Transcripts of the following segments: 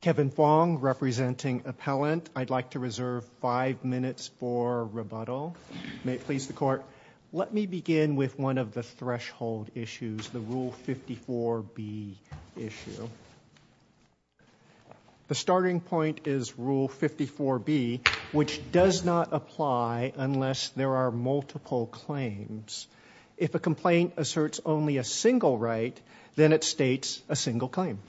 Kevin Fong representing Appellant. I'd like to reserve five minutes for rebuttal. May it please the Court. Let me begin with one of the threshold issues, the Rule 54B issue. The starting point is Rule 54B, which does not apply unless there are multiple claims. If a complaint asserts only a single right, then it states a single claim.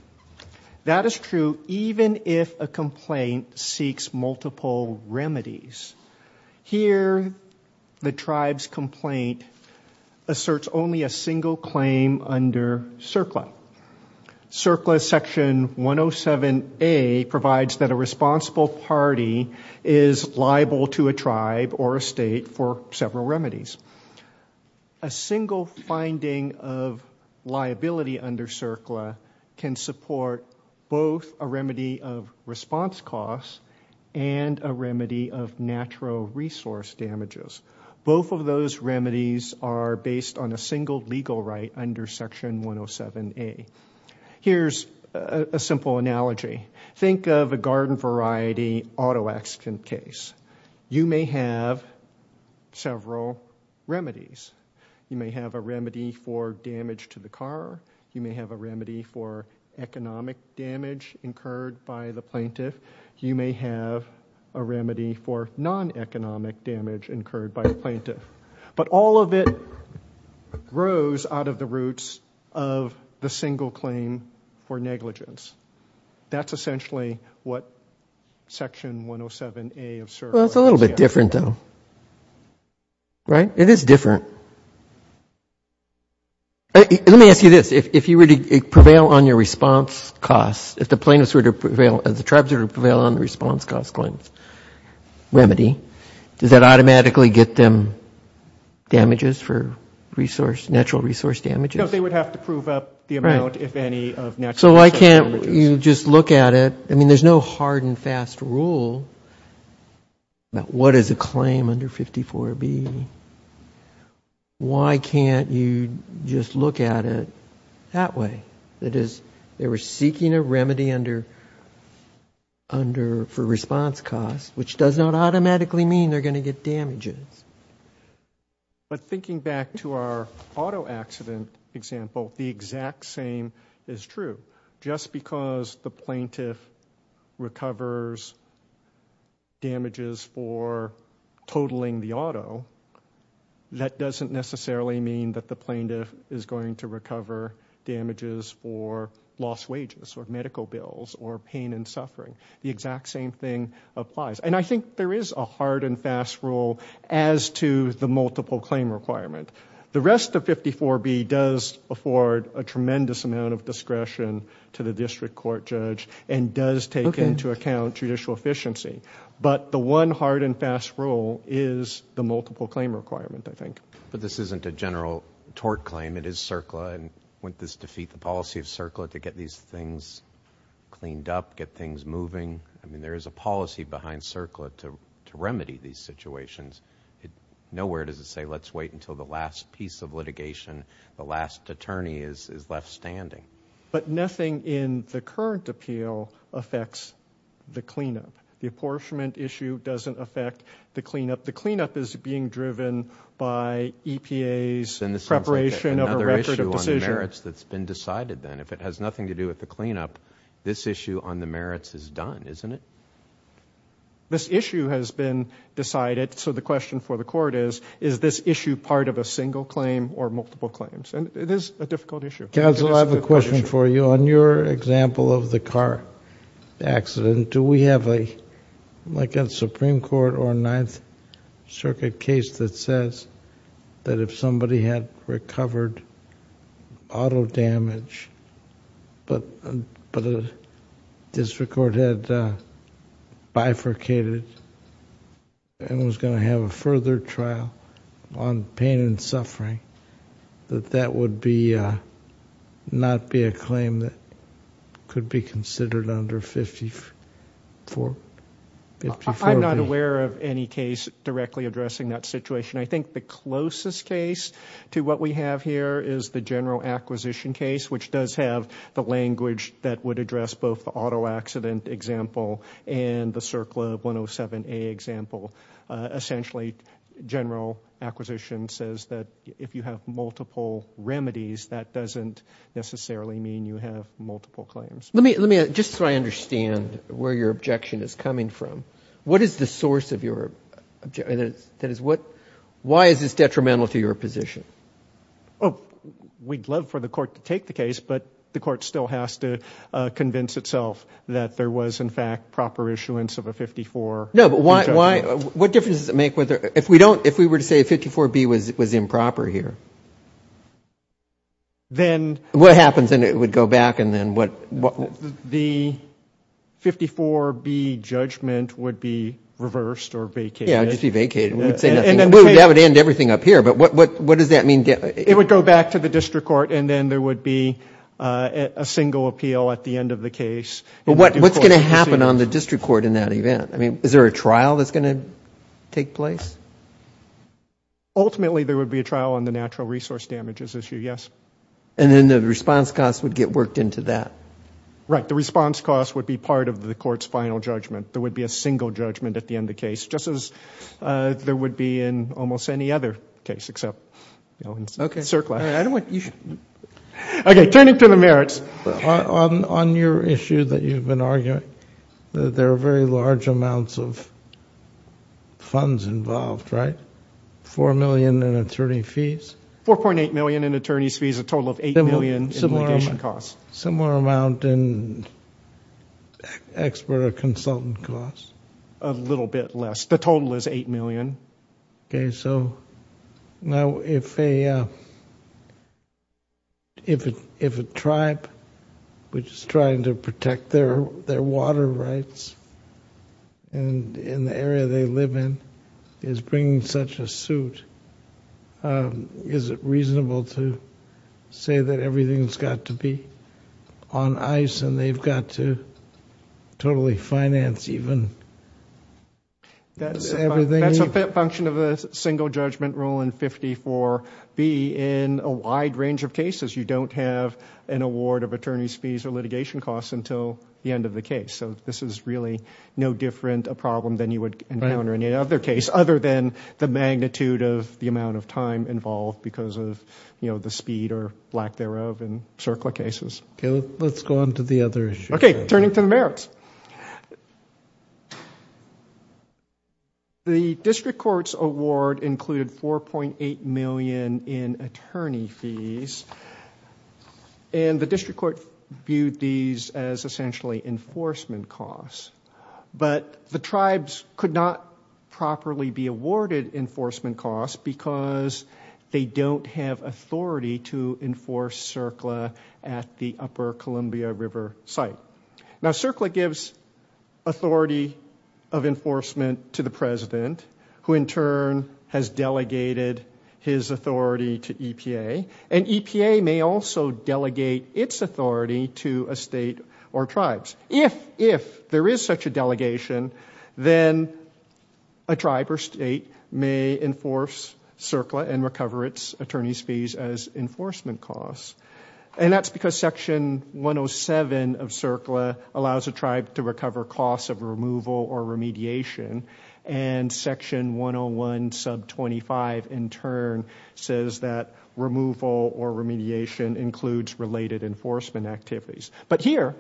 That is true even if a complaint seeks multiple remedies. Here, the tribe's complaint asserts only a single claim under CERCLA. CERCLA Section 107A provides that a responsible party is liable to a tribe or a state for several remedies. A single finding of liability under CERCLA can support both a remedy of response costs and a remedy of natural resource damages. Both of those remedies are based on a single legal right under Section 107A. Here's a simple analogy. Think of a garden variety auto accident case. You may have several remedies. You may have a remedy for damage to the car. You may have a remedy for economic damage incurred by the plaintiff. You may have a remedy for non-economic damage incurred by the plaintiff. But all of it grows out of the roots of the single claim for negligence. That's essentially what Section 107A of CERCLA is. Well, it's a little bit different, though. Right? It is different. Let me ask you this. If you were to prevail on your response costs, if the plaintiffs were to prevail, if the tribes were to prevail on the response cost claim remedy, does that automatically get them damages for natural resource damages? No, they would have to prove up the amount, if any, of natural resource damages. So why can't you just look at it? I mean, there's no hard and fast rule about what is a claim under 54B. Why can't you just look at it that way? That is, they were seeking a remedy for response costs, which does not automatically mean they're going to get damages. But thinking back to our auto accident example, the exact same is true. Just because the plaintiff recovers damages for totaling the auto, that doesn't necessarily mean that the plaintiff is going to recover damages for lost wages or medical bills or pain and suffering. The exact same thing applies. And I think there is a hard and fast rule as to the multiple claim requirement. The rest of 54B does afford a tremendous amount of discretion to the district court judge and does take into account judicial efficiency. But the one hard and fast rule is the multiple claim requirement, I think. But this isn't a general tort claim. It is CERCLA. And wouldn't this defeat the policy of CERCLA to get these things cleaned up, get things moving? I mean, there is a policy behind CERCLA to remedy these situations. Nowhere does it say let's wait until the last piece of litigation, the last attorney is left standing. But nothing in the current appeal affects the cleanup. The apportionment issue doesn't affect the cleanup. The cleanup is being driven by EPA's preparation of a record of decision. Another issue on the merits that's been decided then. If it has nothing to do with the cleanup, this issue on the merits is done, isn't it? This issue has been decided, so the question for the court is, is this issue part of a single claim or multiple claims? And it is a difficult issue. Counsel, I have a question for you. On your example of the car accident, do we have like a Supreme Court or a Ninth Circuit case that says that if somebody had recovered auto damage but a district court had bifurcated and was going to have a further trial on pain and suffering, that that would not be a claim that could be considered under 54B? I'm not aware of any case directly addressing that situation. I think the closest case to what we have here is the general acquisition case, which does have the language that would address both the auto accident example and the CERCLA 107A example. Essentially, general acquisition says that if you have multiple remedies, that doesn't necessarily mean you have multiple claims. Let me, just so I understand where your objection is coming from. What is the source of your objection? That is, why is this detrimental to your position? We'd love for the court to take the case, but the court still has to convince itself that there was in fact proper issuance of a 54B judgment. No, but what difference does it make if we were to say 54B was improper here? Then what happens? Then it would go back and then what? The 54B judgment would be reversed or vacated. Yeah, it would just be vacated. We would have it end everything up here, but what does that mean? It would go back to the district court, and then there would be a single appeal at the end of the case. But what's going to happen on the district court in that event? Is there a trial that's going to take place? Ultimately, there would be a trial on the natural resource damages issue, yes. And then the response costs would get worked into that? Right. The response costs would be part of the court's final judgment. There would be a single judgment at the end of the case, just as there would be in almost any other case except in surplus. Okay, turning to the merits, on your issue that you've been arguing, there are very large amounts of funds involved, right? Four million in attorney fees? $4.8 million in attorney fees, a total of $8 million in litigation costs. Similar amount in expert or consultant costs? A little bit less. The total is $8 million. Okay, so now if a tribe, which is trying to protect their water rights in the area they live in, is bringing such a suit, is it reasonable to say that everything's got to be on ice and they've got to totally finance even everything? That's a function of the single judgment rule in 54B. In a wide range of cases, you don't have an award of attorney's fees or litigation costs until the end of the case. So this is really no different, a problem than you would encounter in any other case other than the magnitude of the amount of time involved because of the speed or lack thereof in circular cases. Okay, let's go on to the other issue. Okay, turning to the merits. The district court's award included $4.8 million in attorney fees, and the district court viewed these as essentially enforcement costs. But the tribes could not properly be awarded enforcement costs because they don't have authority to enforce CERCLA at the upper Columbia River site. Now CERCLA gives authority of enforcement to the president, who in turn has delegated his authority to EPA, and EPA may also delegate its authority to a state or tribes. If there is such a delegation, then a tribe or state may enforce CERCLA and recover its attorney's fees as enforcement costs. And that's because Section 107 of CERCLA allows a tribe to recover costs of removal or remediation, and Section 101, sub 25, in turn, says that removal or remediation includes related enforcement activities. But here,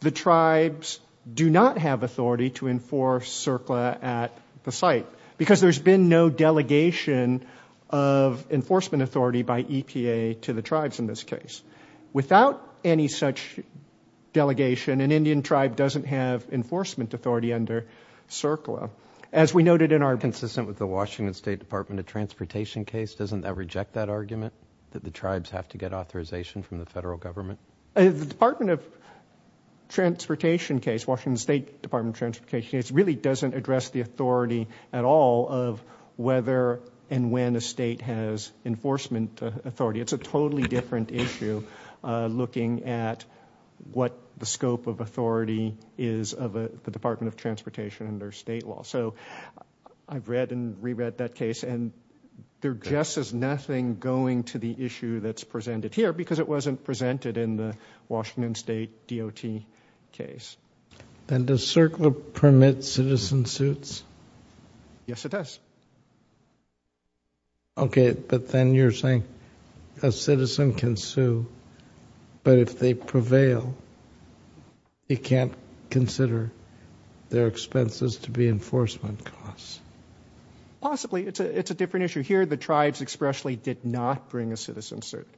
the tribes do not have authority to enforce CERCLA at the site because there's been no delegation of enforcement authority by EPA to the tribes in this case. Without any such delegation, an Indian tribe doesn't have enforcement authority under CERCLA. As we noted in our... Consistent with the Washington State Department of Transportation case, doesn't that reject that argument, that the tribes have to get authorization from the federal government? The Department of Transportation case, Washington State Department of Transportation case, really doesn't address the authority at all of whether and when a state has enforcement authority. It's a totally different issue looking at what the scope of authority is of the Department of Transportation under state law. So I've read and reread that case, and there just is nothing going to the issue that's presented here because it wasn't presented in the Washington State DOT case. Then does CERCLA permit citizen suits? Yes, it does. Okay, but then you're saying a citizen can sue, but if they prevail, they can't consider their expenses to be enforcement costs. Possibly. It's a different issue. You hear the tribes expressly did not bring a citizen suit.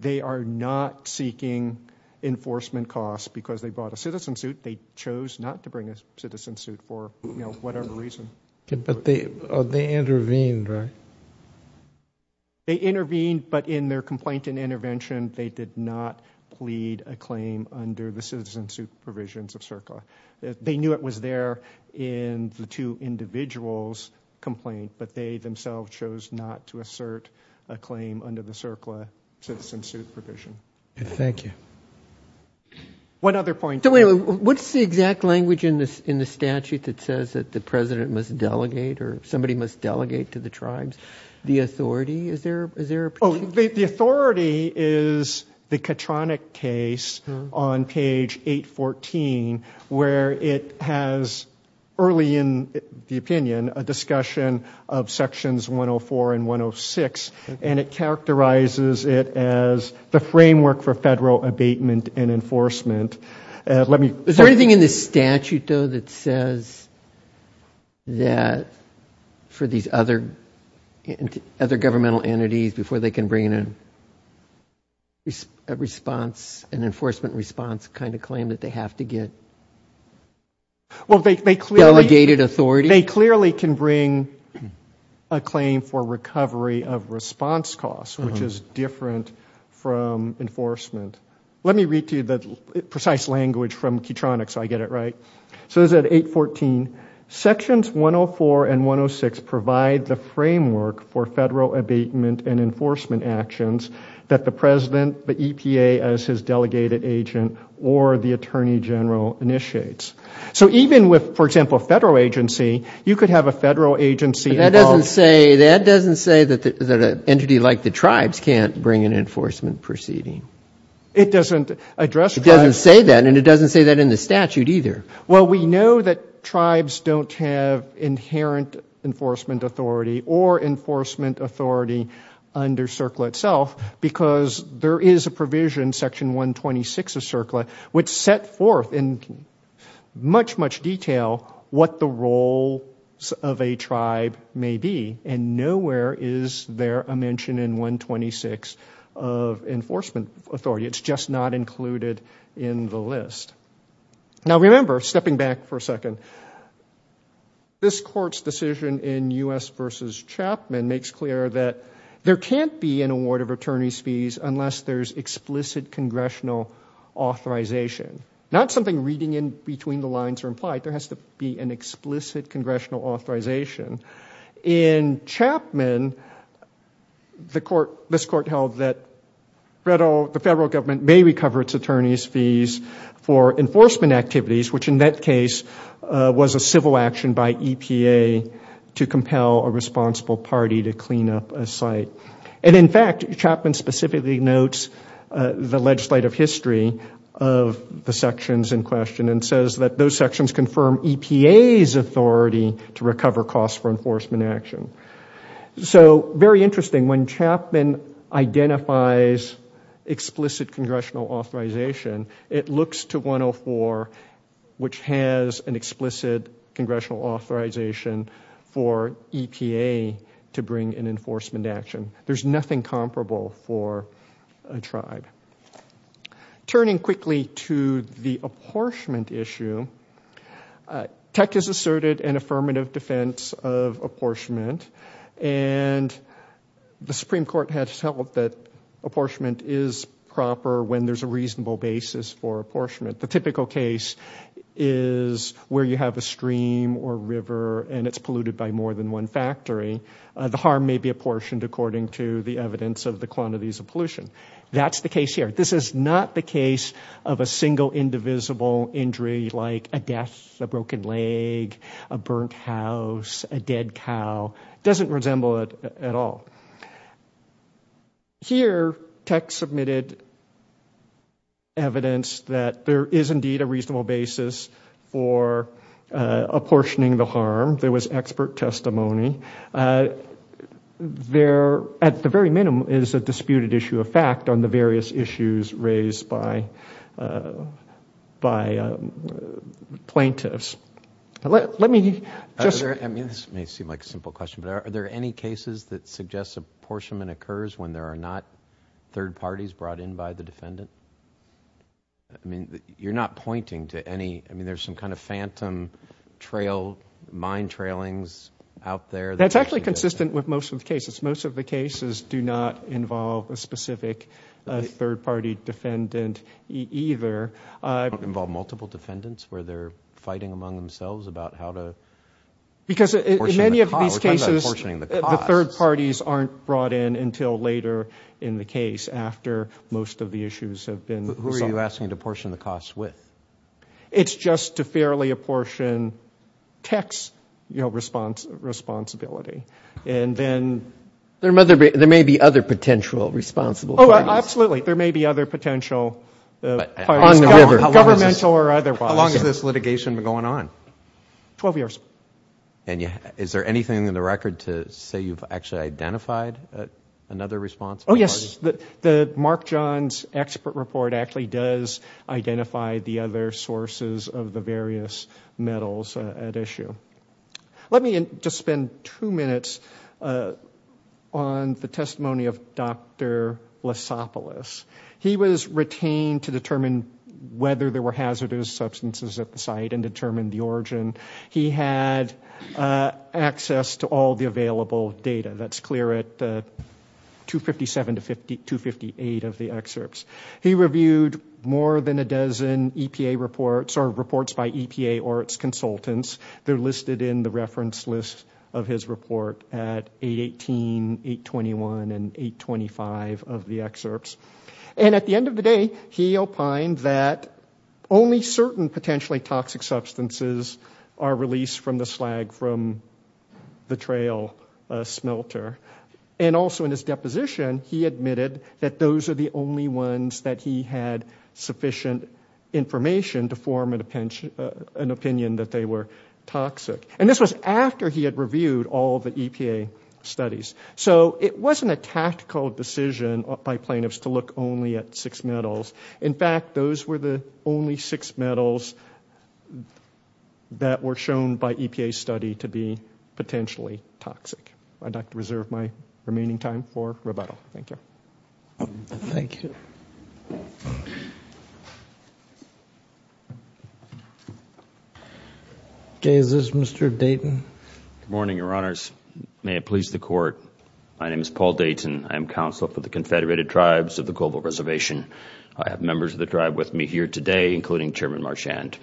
They are not seeking enforcement costs because they bought a citizen suit. They chose not to bring a citizen suit for whatever reason. But they intervened, right? They intervened, but in their complaint and intervention, they did not plead a claim under the citizen suit provisions of CERCLA. They knew it was there in the two individuals' complaint, but they themselves chose not to assert a claim under the CERCLA citizen suit provision. Thank you. One other point. What's the exact language in the statute that says that the president must delegate or somebody must delegate to the tribes? The authority, is there a point? The authority is the Katronic case on page 814 where it has, early in the opinion, a discussion of sections 104 and 106, and it characterizes it as the framework for federal abatement and enforcement. Is there anything in the statute, though, that says that for these other governmental entities, before they can bring in an enforcement response kind of claim that they have to get delegated authority? They clearly can bring a claim for recovery of response costs, which is different from enforcement. Let me read to you the precise language from Katronic so I get it right. So this is at 814. Sections 104 and 106 provide the framework for federal abatement and enforcement actions that the president, the EPA as his delegated agent, or the attorney general initiates. So even with, for example, a federal agency, you could have a federal agency involved. That doesn't say that an entity like the tribes can't bring an enforcement proceeding. It doesn't address tribes. It doesn't say that, and it doesn't say that in the statute either. Well, we know that tribes don't have inherent enforcement authority or enforcement authority under CERCLA itself because there is a provision, section 126 of CERCLA, which set forth in much, much detail what the roles of a tribe may be, and nowhere is there a mention in 126 of enforcement authority. It's just not included in the list. Now remember, stepping back for a second, this Court's decision in U.S. v. Chapman unless there's explicit congressional authorization. Not something reading in between the lines or implied. There has to be an explicit congressional authorization. In Chapman, this Court held that the federal government may recover its attorney's fees for enforcement activities, which in that case was a civil action by EPA to compel a responsible party to clean up a site. And in fact, Chapman specifically notes the legislative history of the sections in question and says that those sections confirm EPA's authority to recover costs for enforcement action. So, very interesting. When Chapman identifies explicit congressional authorization, it looks to 104, which has an explicit congressional authorization for EPA to bring an enforcement action. There's nothing comparable for a tribe. Turning quickly to the apportionment issue, Tech has asserted an affirmative defense of apportionment, and the Supreme Court has held that apportionment is proper when there's a reasonable basis for apportionment. The typical case is where you have a stream or river and it's polluted by more than one factory. The harm may be apportioned according to the evidence of the quantities of pollution. That's the case here. This is not the case of a single indivisible injury like a death, a broken leg, a burnt house, a dead cow. It doesn't resemble it at all. Here, Tech submitted evidence that there is indeed a reasonable basis for apportioning the harm. There was expert testimony. There, at the very minimum, is a disputed issue of fact on the various issues raised by plaintiffs. Let me just... I mean, this may seem like a simple question, but are there any cases that suggest apportionment occurs when there are not third parties brought in by the defendant? I mean, you're not pointing to any... I mean, there's some kind of phantom trail, mind trailings out there. That's actually consistent with most of the cases. Most of the cases do not involve a specific third-party defendant either. They don't involve multiple defendants where they're fighting among themselves about how to... Because in many of these cases, the third parties aren't brought in until later in the case after most of the issues have been resolved. Who are you asking to portion the cost with? It's just to fairly apportion Tech's responsibility. And then... There may be other potential responsible parties. Oh, absolutely. There may be other potential parties, governmental or otherwise. How long has this litigation been going on? Twelve years. And is there anything in the record to say you've actually identified another responsible party? Oh, yes. Mark John's expert report actually does identify the other sources of the various metals at issue. Let me just spend two minutes on the testimony of Dr. Lesopolis. He was retained to determine whether there were hazardous substances at the site and determine the origin. He had access to all the available data. That's clear at 257 to 258 of the excerpts. He reviewed more than a dozen EPA reports or reports by EPA or its consultants. They're listed in the reference list of his report at 818, 821, and 825 of the excerpts. And at the end of the day, he opined that only certain potentially toxic substances are released from the slag from the trail smelter. And also in his deposition, he admitted that those are the only ones that he had sufficient information to form an opinion that they were toxic. And this was after he had reviewed all the EPA studies. So it wasn't a tactical decision by plaintiffs to look only at six metals. In fact, those were the only six metals that were shown by EPA study to be potentially toxic. I'd like to reserve my remaining time for rebuttal. Thank you. Thank you. Okay, is this Mr. Dayton? Good morning, Your Honors. May it please the Court, my name is Paul Dayton. I am Counsel for the Confederated Tribes of the Global Reservation. I have members of the tribe with me here today, including Chairman Marchand.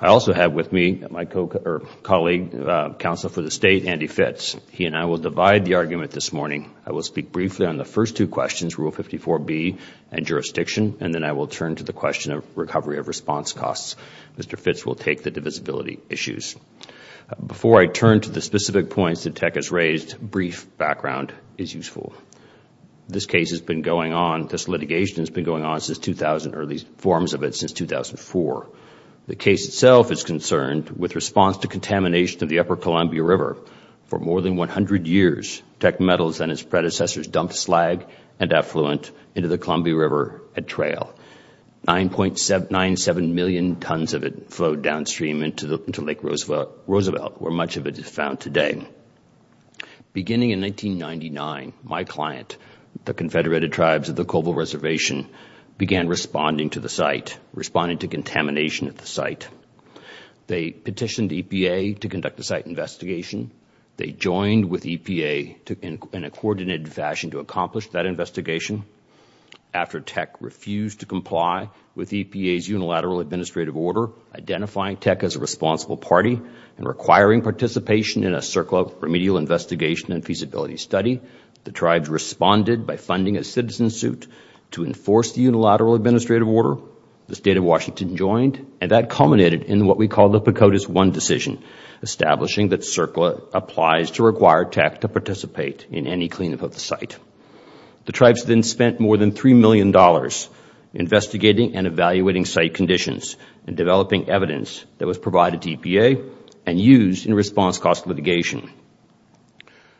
I also have with me my colleague, Counsel for the State, Andy Fitz. He and I will divide the argument this morning. I will speak briefly on the first two questions, Rule 54B and jurisdiction, and then I will turn to the question of recovery of response costs. Mr. Fitz will take the divisibility issues. Before I turn to the specific points that Tech has raised, brief background is useful. This case has been going on, this litigation has been going on since 2000, or at least forms of it since 2004. The case itself is concerned with response to contamination of the upper Columbia River. For more than 100 years, Tech Metals and its predecessors dumped slag and effluent into the Columbia River at trail. 9.97 million tons of it flowed downstream into Lake Roosevelt, where much of it is found today. Beginning in 1999, my client, the Confederated Tribes of the Colville Reservation, began responding to the site, responding to contamination at the site. They petitioned EPA to conduct a site investigation. They joined with EPA in a coordinated fashion to accomplish that investigation. After Tech refused to comply with EPA's unilateral administrative order, identifying Tech as a responsible party and requiring participation in a CERCLA remedial investigation and feasibility study, the tribes responded by funding a citizen suit to enforce the unilateral administrative order. The State of Washington joined, and that culminated in what we call the Pacotus I decision, establishing that CERCLA applies to require Tech to participate in any cleanup of the site. The tribes then spent more than $3 million investigating and evaluating site conditions and developing evidence that was provided to EPA and used in response cost litigation.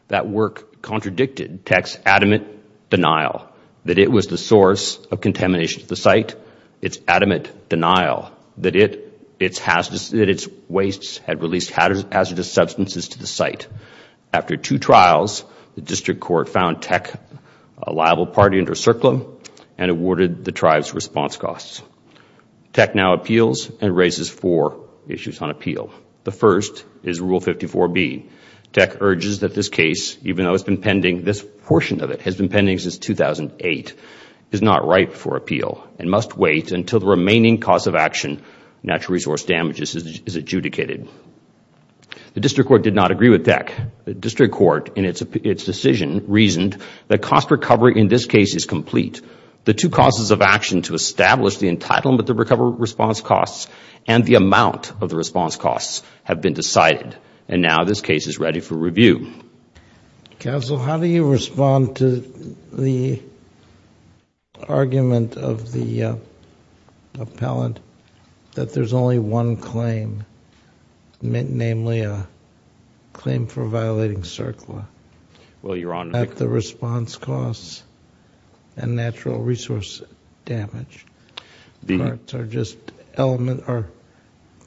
That work contradicted Tech's adamant denial that it was the source of contamination at the site, its adamant denial that its wastes had released hazardous substances to the site. After two trials, the district court found Tech a liable party under CERCLA and awarded the tribes response costs. Tech now appeals and raises four issues on appeal. The first is Rule 54B. Tech urges that this case, even though this portion of it has been pending since 2008, is not ripe for appeal and must wait until the remaining cause of action, natural resource damages, is adjudicated. The district court did not agree with Tech. The district court, in its decision, reasoned that cost recovery in this case is complete. The two causes of action to establish the entitlement to recover response costs and the amount of the response costs have been decided, and now this case is ready for review. Counsel, how do you respond to the argument of the appellant that there's only one claim, namely a claim for violating CERCLA? Well, Your Honor... The response costs and natural resource damage are just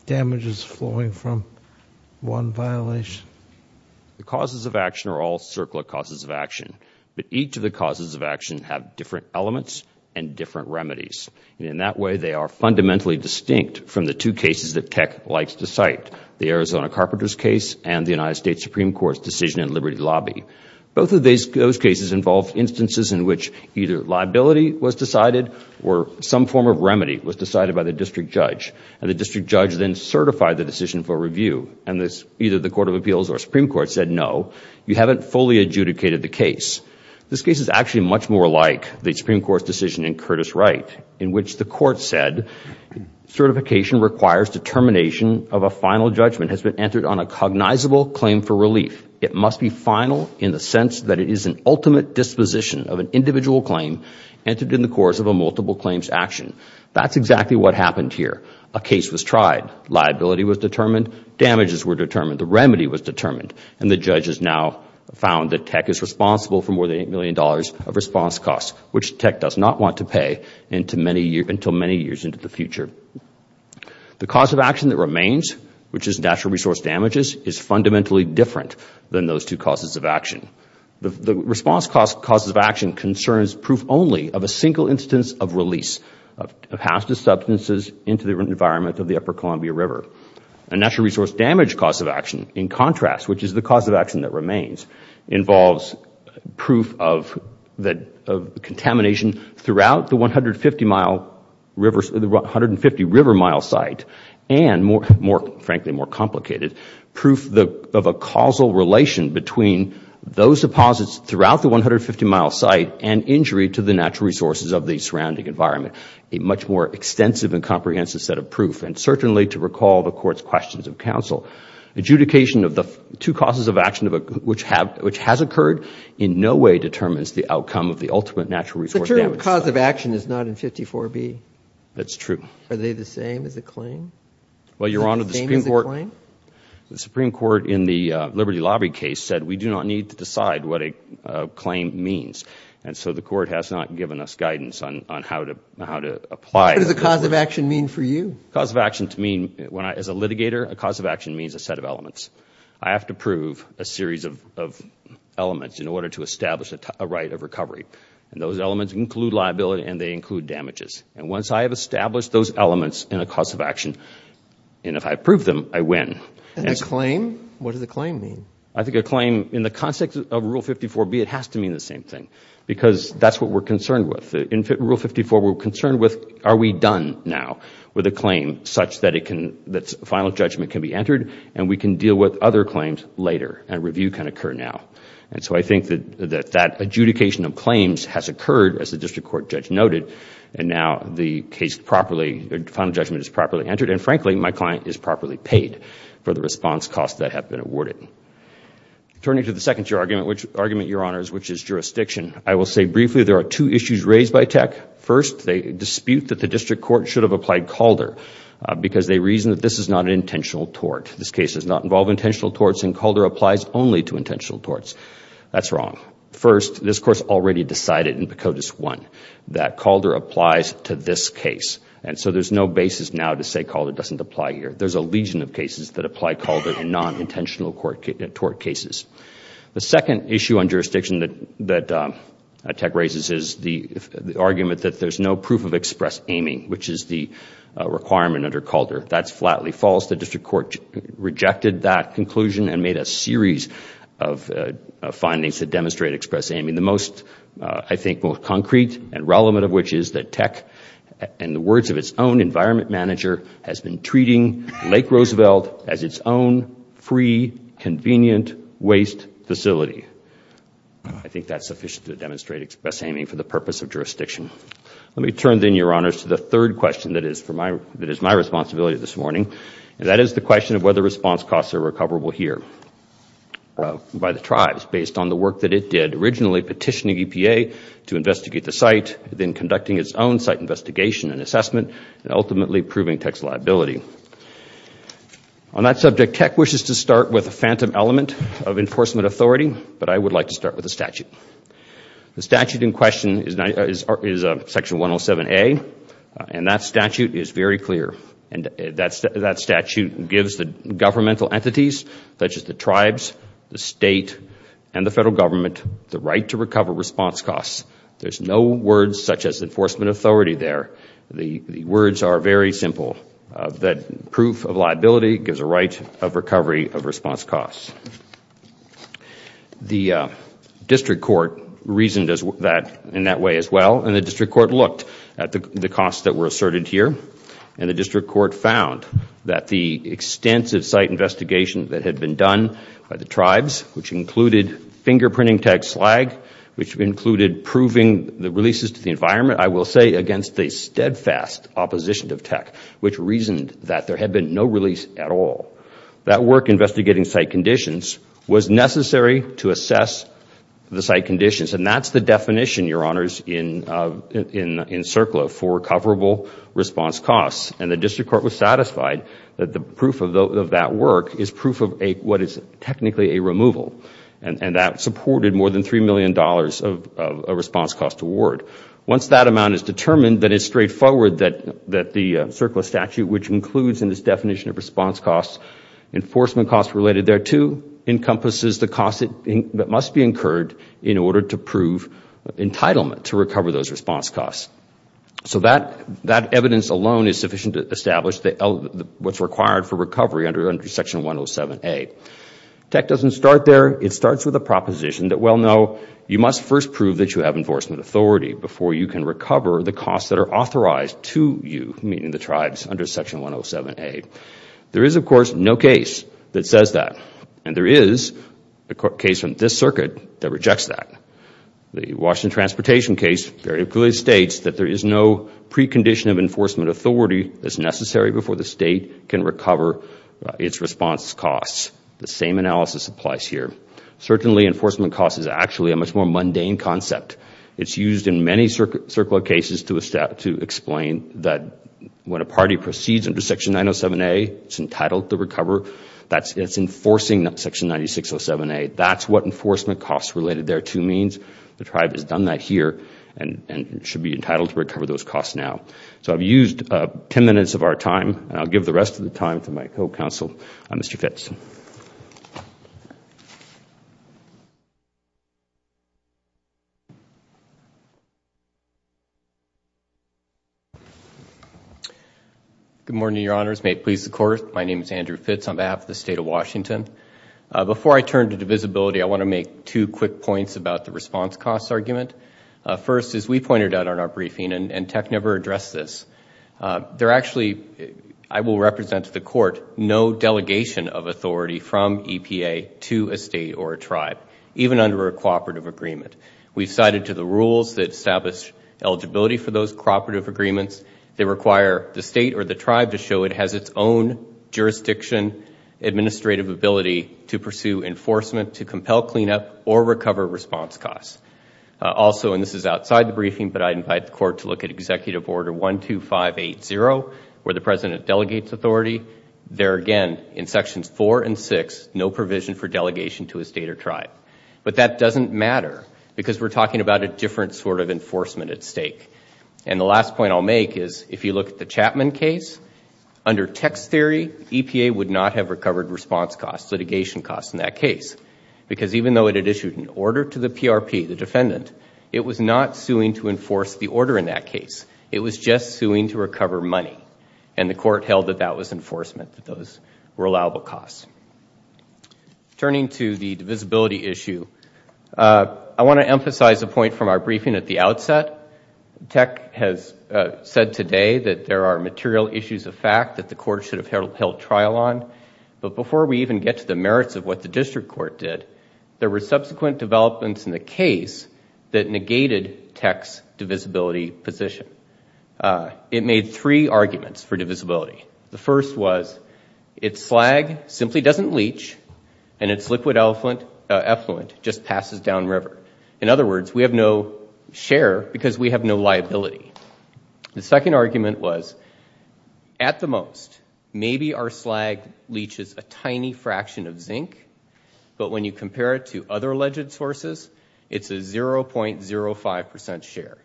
damages flowing from one violation. The causes of action are all CERCLA causes of action, but each of the causes of action have different elements and different remedies. In that way, they are fundamentally distinct from the two cases that Tech likes to cite, the Arizona carpenters case and the United States Supreme Court's decision in Liberty Lobby. Both of those cases involved instances in which either liability was decided or some form of remedy was decided by the district judge, and the district judge then certified the decision for review, and either the Court of Appeals or Supreme Court said, no, you haven't fully adjudicated the case. This case is actually much more like the Supreme Court's decision in Curtis Wright, in which the court said, certification requires determination of a final judgment has been entered on a cognizable claim for relief. It must be final in the sense that it is an ultimate disposition of an individual claim entered in the course of a multiple claims action. That's exactly what happened here. A case was tried, liability was determined, damages were determined, the remedy was determined, and the judges now found that Tech is responsible for more than $8 million of response costs, which Tech does not want to pay until many years into the future. The cause of action that remains, which is natural resource damages, is fundamentally different than those two causes of action. The response causes of action concerns proof only of a single instance of release of hazardous substances into the environment of the Upper Columbia River. A natural resource damage cause of action, in contrast, which is the cause of action that remains, involves proof of contamination throughout the 150-river mile site and, frankly, more complicated, proof of a causal relation between those deposits throughout the 150-mile site and injury to the natural resources of the surrounding environment, a much more extensive and comprehensive set of proof, and certainly to recall the Court's questions of counsel. Adjudication of the two causes of action which has occurred in no way determines the outcome of the ultimate natural resource damage. The term cause of action is not in 54B. That's true. Are they the same as a claim? Well, Your Honor, the Supreme Court in the Liberty Lobby case said we do not need to decide what a claim means, and so the Court has not given us guidance on how to apply it. What does a cause of action mean for you? A cause of action to me, as a litigator, a cause of action means a set of elements. I have to prove a series of elements in order to establish a right of recovery, and those elements include liability and they include damages. And once I have established those elements in a cause of action, and if I prove them, I win. And a claim? What does a claim mean? I think a claim, in the context of Rule 54B, it has to mean the same thing because that's what we're concerned with. In Rule 54, we're concerned with are we done now with a claim such that final judgment can be entered and we can deal with other claims later and review can occur now. And so I think that that adjudication of claims has occurred, as the District Court judge noted, and now the case properly, the final judgment is properly entered, and frankly, my client is properly paid for the response costs that have been awarded. Turning to the second argument, Your Honors, which is jurisdiction, I will say briefly there are two issues raised by Tech. First, they dispute that the District Court should have applied Calder because they reason that this is not an intentional tort. This case does not involve intentional torts and Calder applies only to intentional torts. That's wrong. First, this Court has already decided in Pecotus 1 that Calder applies to this case. And so there's no basis now to say Calder doesn't apply here. There's a legion of cases that apply Calder in non-intentional tort cases. The second issue on jurisdiction that Tech raises is the argument that there's no proof of express aiming, which is the requirement under Calder. That's flatly false. The District Court rejected that conclusion and made a series of findings that demonstrate express aiming. The most concrete and relevant of which is that Tech, in the words of its own environment manager, has been treating Lake Roosevelt as its own free, convenient waste facility. I think that's sufficient to demonstrate express aiming for the purpose of jurisdiction. Let me turn, then, Your Honors, to the third question that is my responsibility this morning. That is the question of whether response costs are recoverable here by the tribes based on the work that it did in originally petitioning EPA to investigate the site, then conducting its own site investigation and assessment, and ultimately proving Tech's liability. On that subject, Tech wishes to start with a phantom element of enforcement authority, but I would like to start with the statute. The statute in question is Section 107A, and that statute is very clear. That statute gives the governmental entities, such as the tribes, the State, and the Federal Government, the right to recover response costs. There's no words such as enforcement authority there. The words are very simple. That proof of liability gives a right of recovery of response costs. The District Court reasoned in that way as well, and the District Court looked at the costs that were asserted here, and the District Court found that the extensive site investigation that had been done by the tribes, which included fingerprinting Tech's slag, which included proving the releases to the environment, I will say against a steadfast opposition to Tech, which reasoned that there had been no release at all, that work investigating site conditions was necessary to assess the site conditions. And that's the definition, Your Honors, in CERCLA for recoverable response costs. And the District Court was satisfied that the proof of that work is proof of what is technically a removal, and that supported more than $3 million of response cost award. Once that amount is determined, then it's straightforward that the CERCLA statute, which includes in its definition of response costs, enforcement costs related thereto, encompasses the costs that must be incurred in order to prove entitlement to recover those response costs. So that evidence alone is sufficient to establish what's required for recovery under Section 107A. Tech doesn't start there. It starts with a proposition that, well, no, you must first prove that you have enforcement authority before you can recover the costs that are authorized to you, meaning the tribes, under Section 107A. There is, of course, no case that says that. And there is a case from this circuit that rejects that. The Washington Transportation case very clearly states that there is no precondition of enforcement authority that's necessary before the state can recover its response costs. The same analysis applies here. Certainly enforcement costs is actually a much more mundane concept. It's used in many CERCLA cases to explain that when a party proceeds under Section 907A, it's entitled to recover. It's enforcing Section 9607A. That's what enforcement costs related thereto means. The tribe has done that here and should be entitled to recover those costs now. So I've used ten minutes of our time, and I'll give the rest of the time to my co-counsel, Mr. Fitz. Good morning, Your Honors. May it please the Court. My name is Andrew Fitz on behalf of the State of Washington. Before I turn to divisibility, I want to make two quick points about the response costs argument. First, as we pointed out in our briefing, and Tech never addressed this, there actually, I will represent to the Court, no delegation of authority from EPA to a state or a tribe, even under a cooperative agreement. We've cited to the rules that establish eligibility for those cooperative agreements. They require the state or the tribe to show it has its own jurisdiction, administrative ability to pursue enforcement to compel cleanup or recover response costs. Also, and this is outside the briefing, but I invite the Court to look at Executive Order 12580, where the President delegates authority. There again, in Sections 4 and 6, no provision for delegation to a state or tribe. But that doesn't matter, because we're talking about a different sort of enforcement at stake. And the last point I'll make is, if you look at the Chapman case, under Tech's theory, EPA would not have recovered response costs, litigation costs in that case. Because even though it had issued an order to the PRP, the defendant, it was not suing to enforce the order in that case. It was just suing to recover money. And the Court held that that was enforcement, that those were allowable costs. Turning to the divisibility issue, I want to emphasize a point from our briefing at the outset. Tech has said today that there are material issues of fact that the Court should have held trial on. But before we even get to the merits of what the District Court did, there were subsequent developments in the case that negated Tech's divisibility position. It made three arguments for divisibility. The first was, its slag simply doesn't leach, and its liquid effluent just passes downriver. In other words, we have no share because we have no liability. The second argument was, at the most, maybe our slag leaches a tiny fraction of zinc, but when you compare it to other alleged sources, it's a 0.05% share.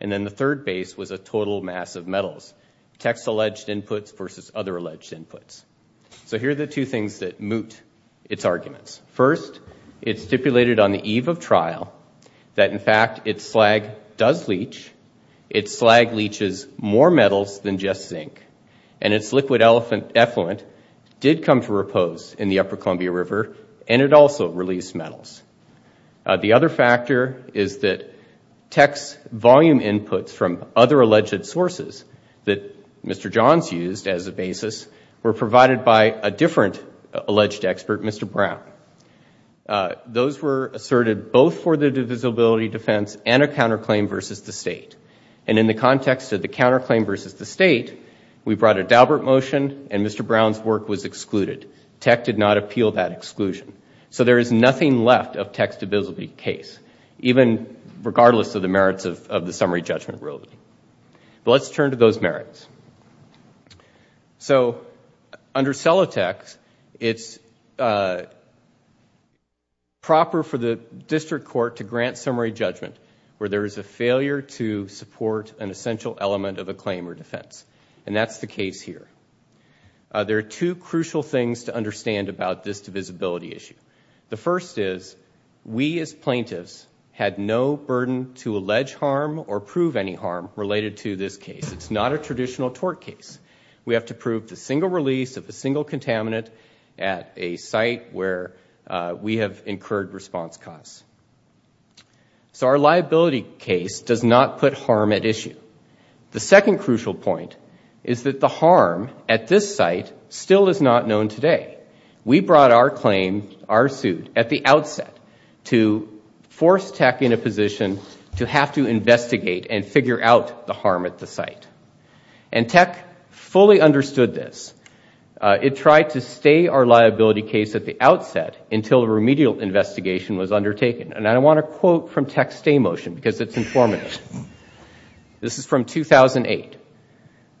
And then the third base was a total mass of metals. Tech's alleged inputs versus other alleged inputs. So here are the two things that moot its arguments. First, it stipulated on the eve of trial that, in fact, its slag does leach. Its slag leaches more metals than just zinc, and its liquid effluent did come to repose in the Upper Columbia River, and it also released metals. The other factor is that Tech's volume inputs from other alleged sources that Mr. Johns used as a basis were provided by a different alleged expert, Mr. Brown. Those were asserted both for the divisibility defense and a counterclaim versus the State. And in the context of the counterclaim versus the State, we brought a Daubert motion and Mr. Brown's work was excluded. Tech did not appeal that exclusion. So there is nothing left of Tech's divisibility case, even regardless of the merits of the summary judgment rule. But let's turn to those merits. So under Celotex, it's proper for the district court to grant summary judgment where there is a failure to support an essential element of a claim or defense, and that's the case here. There are two crucial things to understand about this divisibility issue. The first is we as plaintiffs had no burden to allege harm or prove any harm related to this case. It's not a traditional tort case. We have to prove the single release of a single contaminant at a site where we have incurred response costs. So our liability case does not put harm at issue. The second crucial point is that the harm at this site still is not known today. We brought our claim, our suit, at the outset to force Tech in a position to have to investigate and figure out the harm at the site. And Tech fully understood this. It tried to stay our liability case at the outset until a remedial investigation was undertaken. And I want to quote from Tech's stay motion because it's informative. This is from 2008.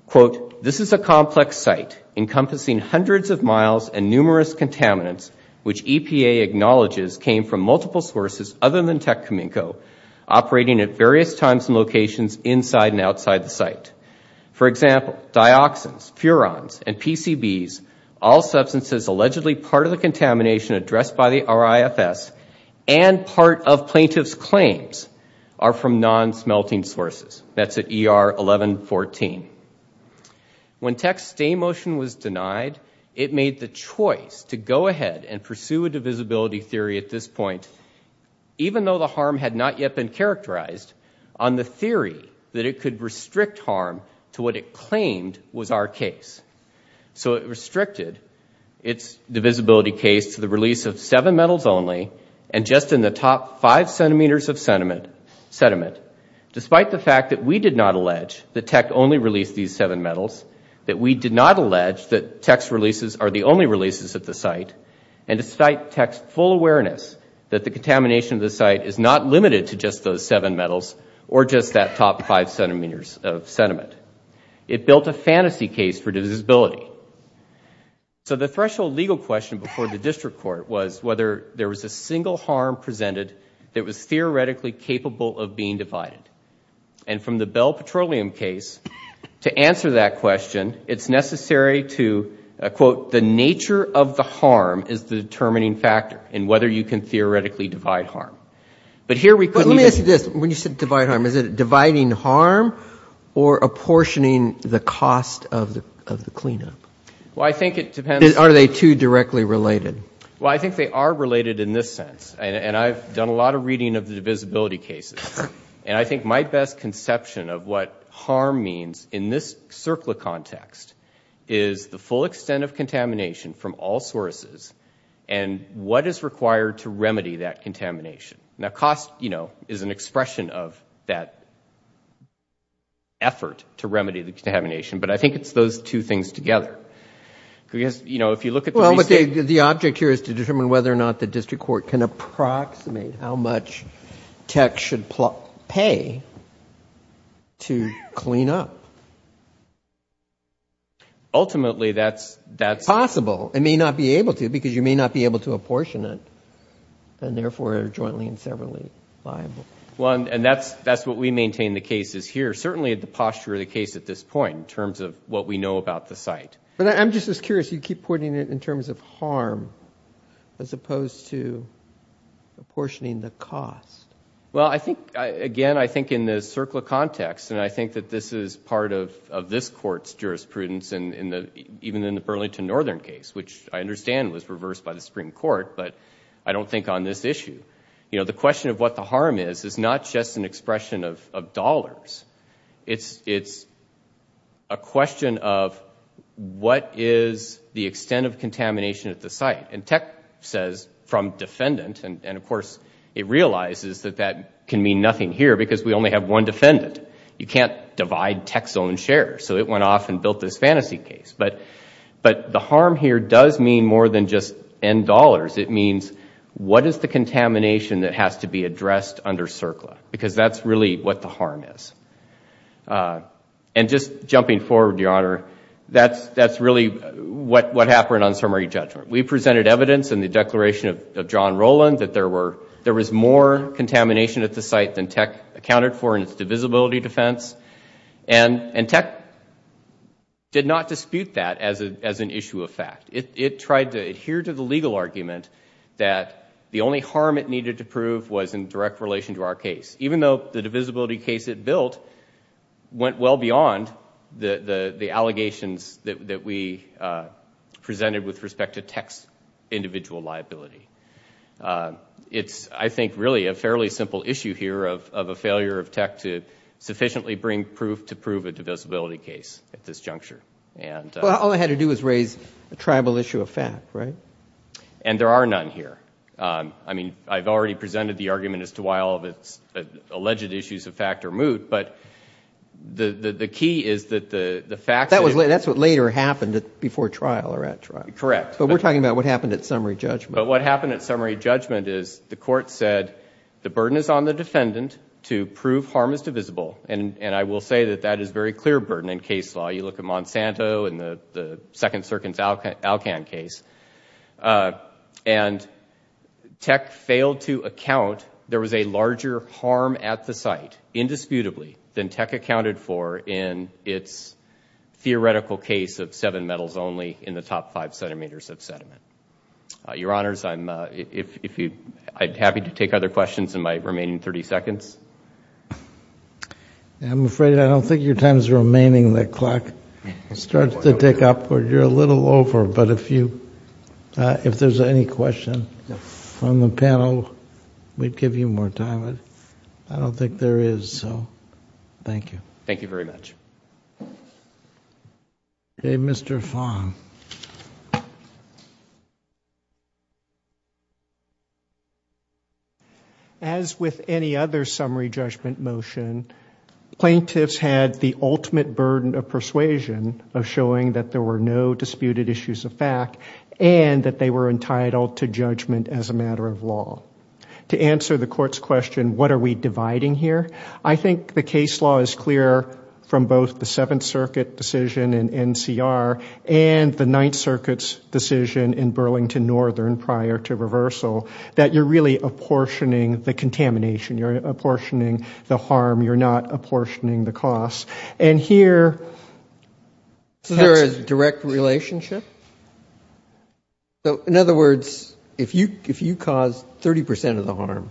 Quote, this is a complex site encompassing hundreds of miles and numerous contaminants which EPA acknowledges came from multiple sources other than Tech Cominco operating at various times and locations inside and outside the site. For example, dioxins, furans, and PCBs, all substances allegedly part of the contamination addressed by the RIFS and part of plaintiff's claims are from non-smelting sources. That's at ER 1114. When Tech's stay motion was denied, it made the choice to go ahead and pursue a divisibility theory at this point, even though the harm had not yet been characterized, on the theory that it could restrict harm to what it claimed was our case. So it restricted its divisibility case to the release of seven metals only and just in the top five centimeters of sediment, despite the fact that we did not allege that Tech only released these seven metals, that we did not allege that Tech's releases are the only releases at the site, and despite Tech's full awareness that the contamination of the site is not limited to just those seven metals or just that top five centimeters of sediment. It built a fantasy case for divisibility. So the threshold legal question before the district court was whether there was a single harm presented that was theoretically capable of being divided. And from the Bell Petroleum case, to answer that question, it's necessary to, quote, the nature of the harm is the determining factor in whether you can theoretically divide harm. But here we could... But let me ask you this, when you said divide harm, is it dividing harm or apportioning the cost of the cleanup? Well, I think it depends... Are they two directly related? Well, I think they are related in this sense, and I've done a lot of reading of the divisibility cases, and I think my best conception of what harm means in this circle of context is the full extent of contamination from all sources and what is required to remedy that contamination. Now, cost, you know, is an expression of that effort to remedy the contamination, but I think it's those two things together. Because, you know, if you look at the... how much tech should pay to clean up. Ultimately, that's... Possible. It may not be able to, because you may not be able to apportion it, and therefore are jointly and severally liable. Well, and that's what we maintain the case is here. Certainly the posture of the case at this point, in terms of what we know about the site. But I'm just as curious, you keep pointing it in terms of harm as opposed to apportioning the cost. Well, I think, again, I think in this circle of context, and I think that this is part of this court's jurisprudence, even in the Burlington Northern case, which I understand was reversed by the Supreme Court, but I don't think on this issue. You know, the question of what the harm is is not just an expression of dollars. It's a question of, what is the extent of contamination at the site? And tech says, from defendant, and of course it realizes that that can mean nothing here because we only have one defendant. You can't divide tech's own share. So it went off and built this fantasy case. But the harm here does mean more than just N dollars. It means, what is the contamination that has to be addressed under CERCLA? Because that's really what the harm is. And just jumping forward, Your Honor, that's really what happened on summary judgment. We presented evidence in the declaration of John Rowland that there was more contamination at the site than tech accounted for in its divisibility defense. And tech did not dispute that as an issue of fact. It tried to adhere to the legal argument that the only harm it needed to prove was in direct relation to our case. Even though the divisibility case it built went well beyond the allegations that we presented with respect to tech's individual liability. It's, I think, really a fairly simple issue here of a failure of tech to sufficiently bring proof to prove a divisibility case at this juncture. All it had to do was raise a tribal issue of fact, right? And there are none here. I mean, I've already presented the argument as to why all of its alleged issues of fact are moot. But the key is that the facts... That's what later happened before trial or at trial. Correct. But we're talking about what happened at summary judgment. But what happened at summary judgment is the court said the burden is on the defendant to prove harm is divisible. And I will say that that is a very clear burden in case law. You look at Monsanto and the Second Circuit's Alcan case. And tech failed to account there was a larger harm at the site, indisputably, than tech accounted for in its theoretical case of seven metals only in the top five centimeters of sediment. Your Honors, I'm happy to take other questions in my remaining 30 seconds. I'm afraid I don't think your time is remaining. The clock starts to tick upward. You're a little over. But if there's any question from the panel, we'd give you more time. I don't think there is, so thank you. Thank you very much. Okay, Mr. Fong. As with any other summary judgment motion, plaintiffs had the ultimate burden of persuasion of showing that there were no disputed issues of fact and that they were entitled to judgment as a matter of law. To answer the court's question, what are we dividing here? I think the case law is clear from both the Seventh Circuit decision in NCR and the Ninth Circuit's decision in Burlington Northern prior to reversal, that you're really apportioning the contamination. You're apportioning the harm. You're not apportioning the cost. And here... Is there a direct relationship? In other words, if you cause 30% of the harm,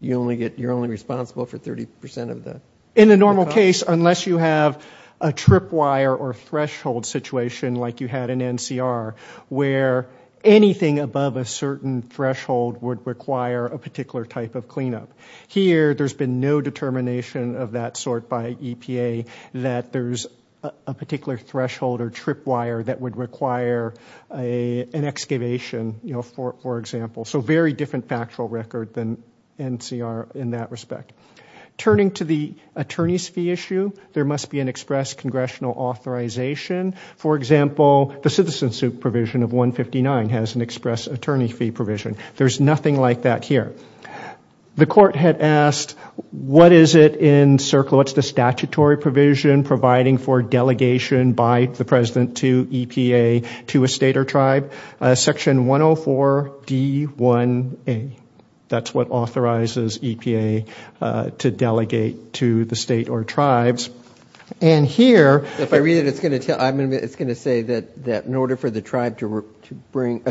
you're only responsible for 30% of the cost? In the normal case, unless you have a tripwire or threshold situation like you had in NCR, where anything above a certain threshold would require a particular type of cleanup. Here, there's been no determination of that sort by EPA that there's a particular threshold or tripwire that would require an excavation, you know, for example. So very different factual record than NCR in that respect. Turning to the attorney's fee issue, there must be an express congressional authorization. For example, the CitizenSuit provision of 159 has an express attorney fee provision. There's nothing like that here. The court had asked, what is it in CERCLA? What's the statutory provision providing for delegation by the president to EPA to a state or tribe? Section 104D1A. That's what authorizes EPA to delegate to the state or tribes. And here... If I read it, it's going to tell... It's going to say that in order for the tribe to bring...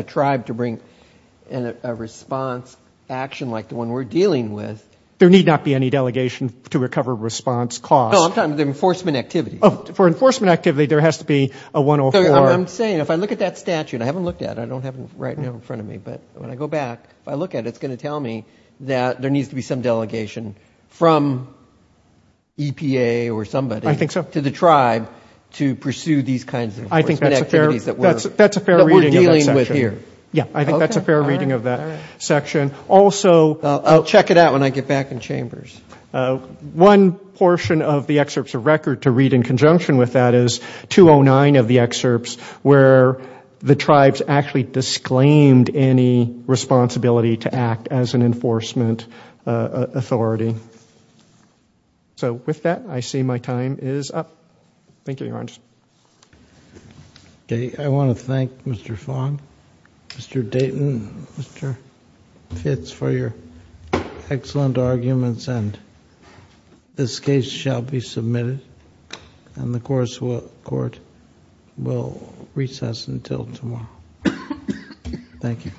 There need not be any delegation to recover response costs. No, I'm talking about the enforcement activities. For enforcement activity, there has to be a 104... I'm saying if I look at that statute, I haven't looked at it, I don't have it right now in front of me, but when I go back, if I look at it, it's going to tell me that there needs to be some delegation from EPA or somebody to the tribe to pursue these kinds of enforcement activities that we're dealing with here. Yeah, I think that's a fair reading of that section. Also... I'll check it out when I get back in chambers. One portion of the excerpts of record to read in conjunction with that is 209 of the excerpts where the tribes actually disclaimed any responsibility to act as an enforcement authority. So with that, I see my time is up. Thank you, Your Honor. Okay, I want to thank Mr. Fong, Mr. Dayton, Mr. Fitz for your excellent arguments, and this case shall be submitted, and the court will recess until tomorrow. Thank you.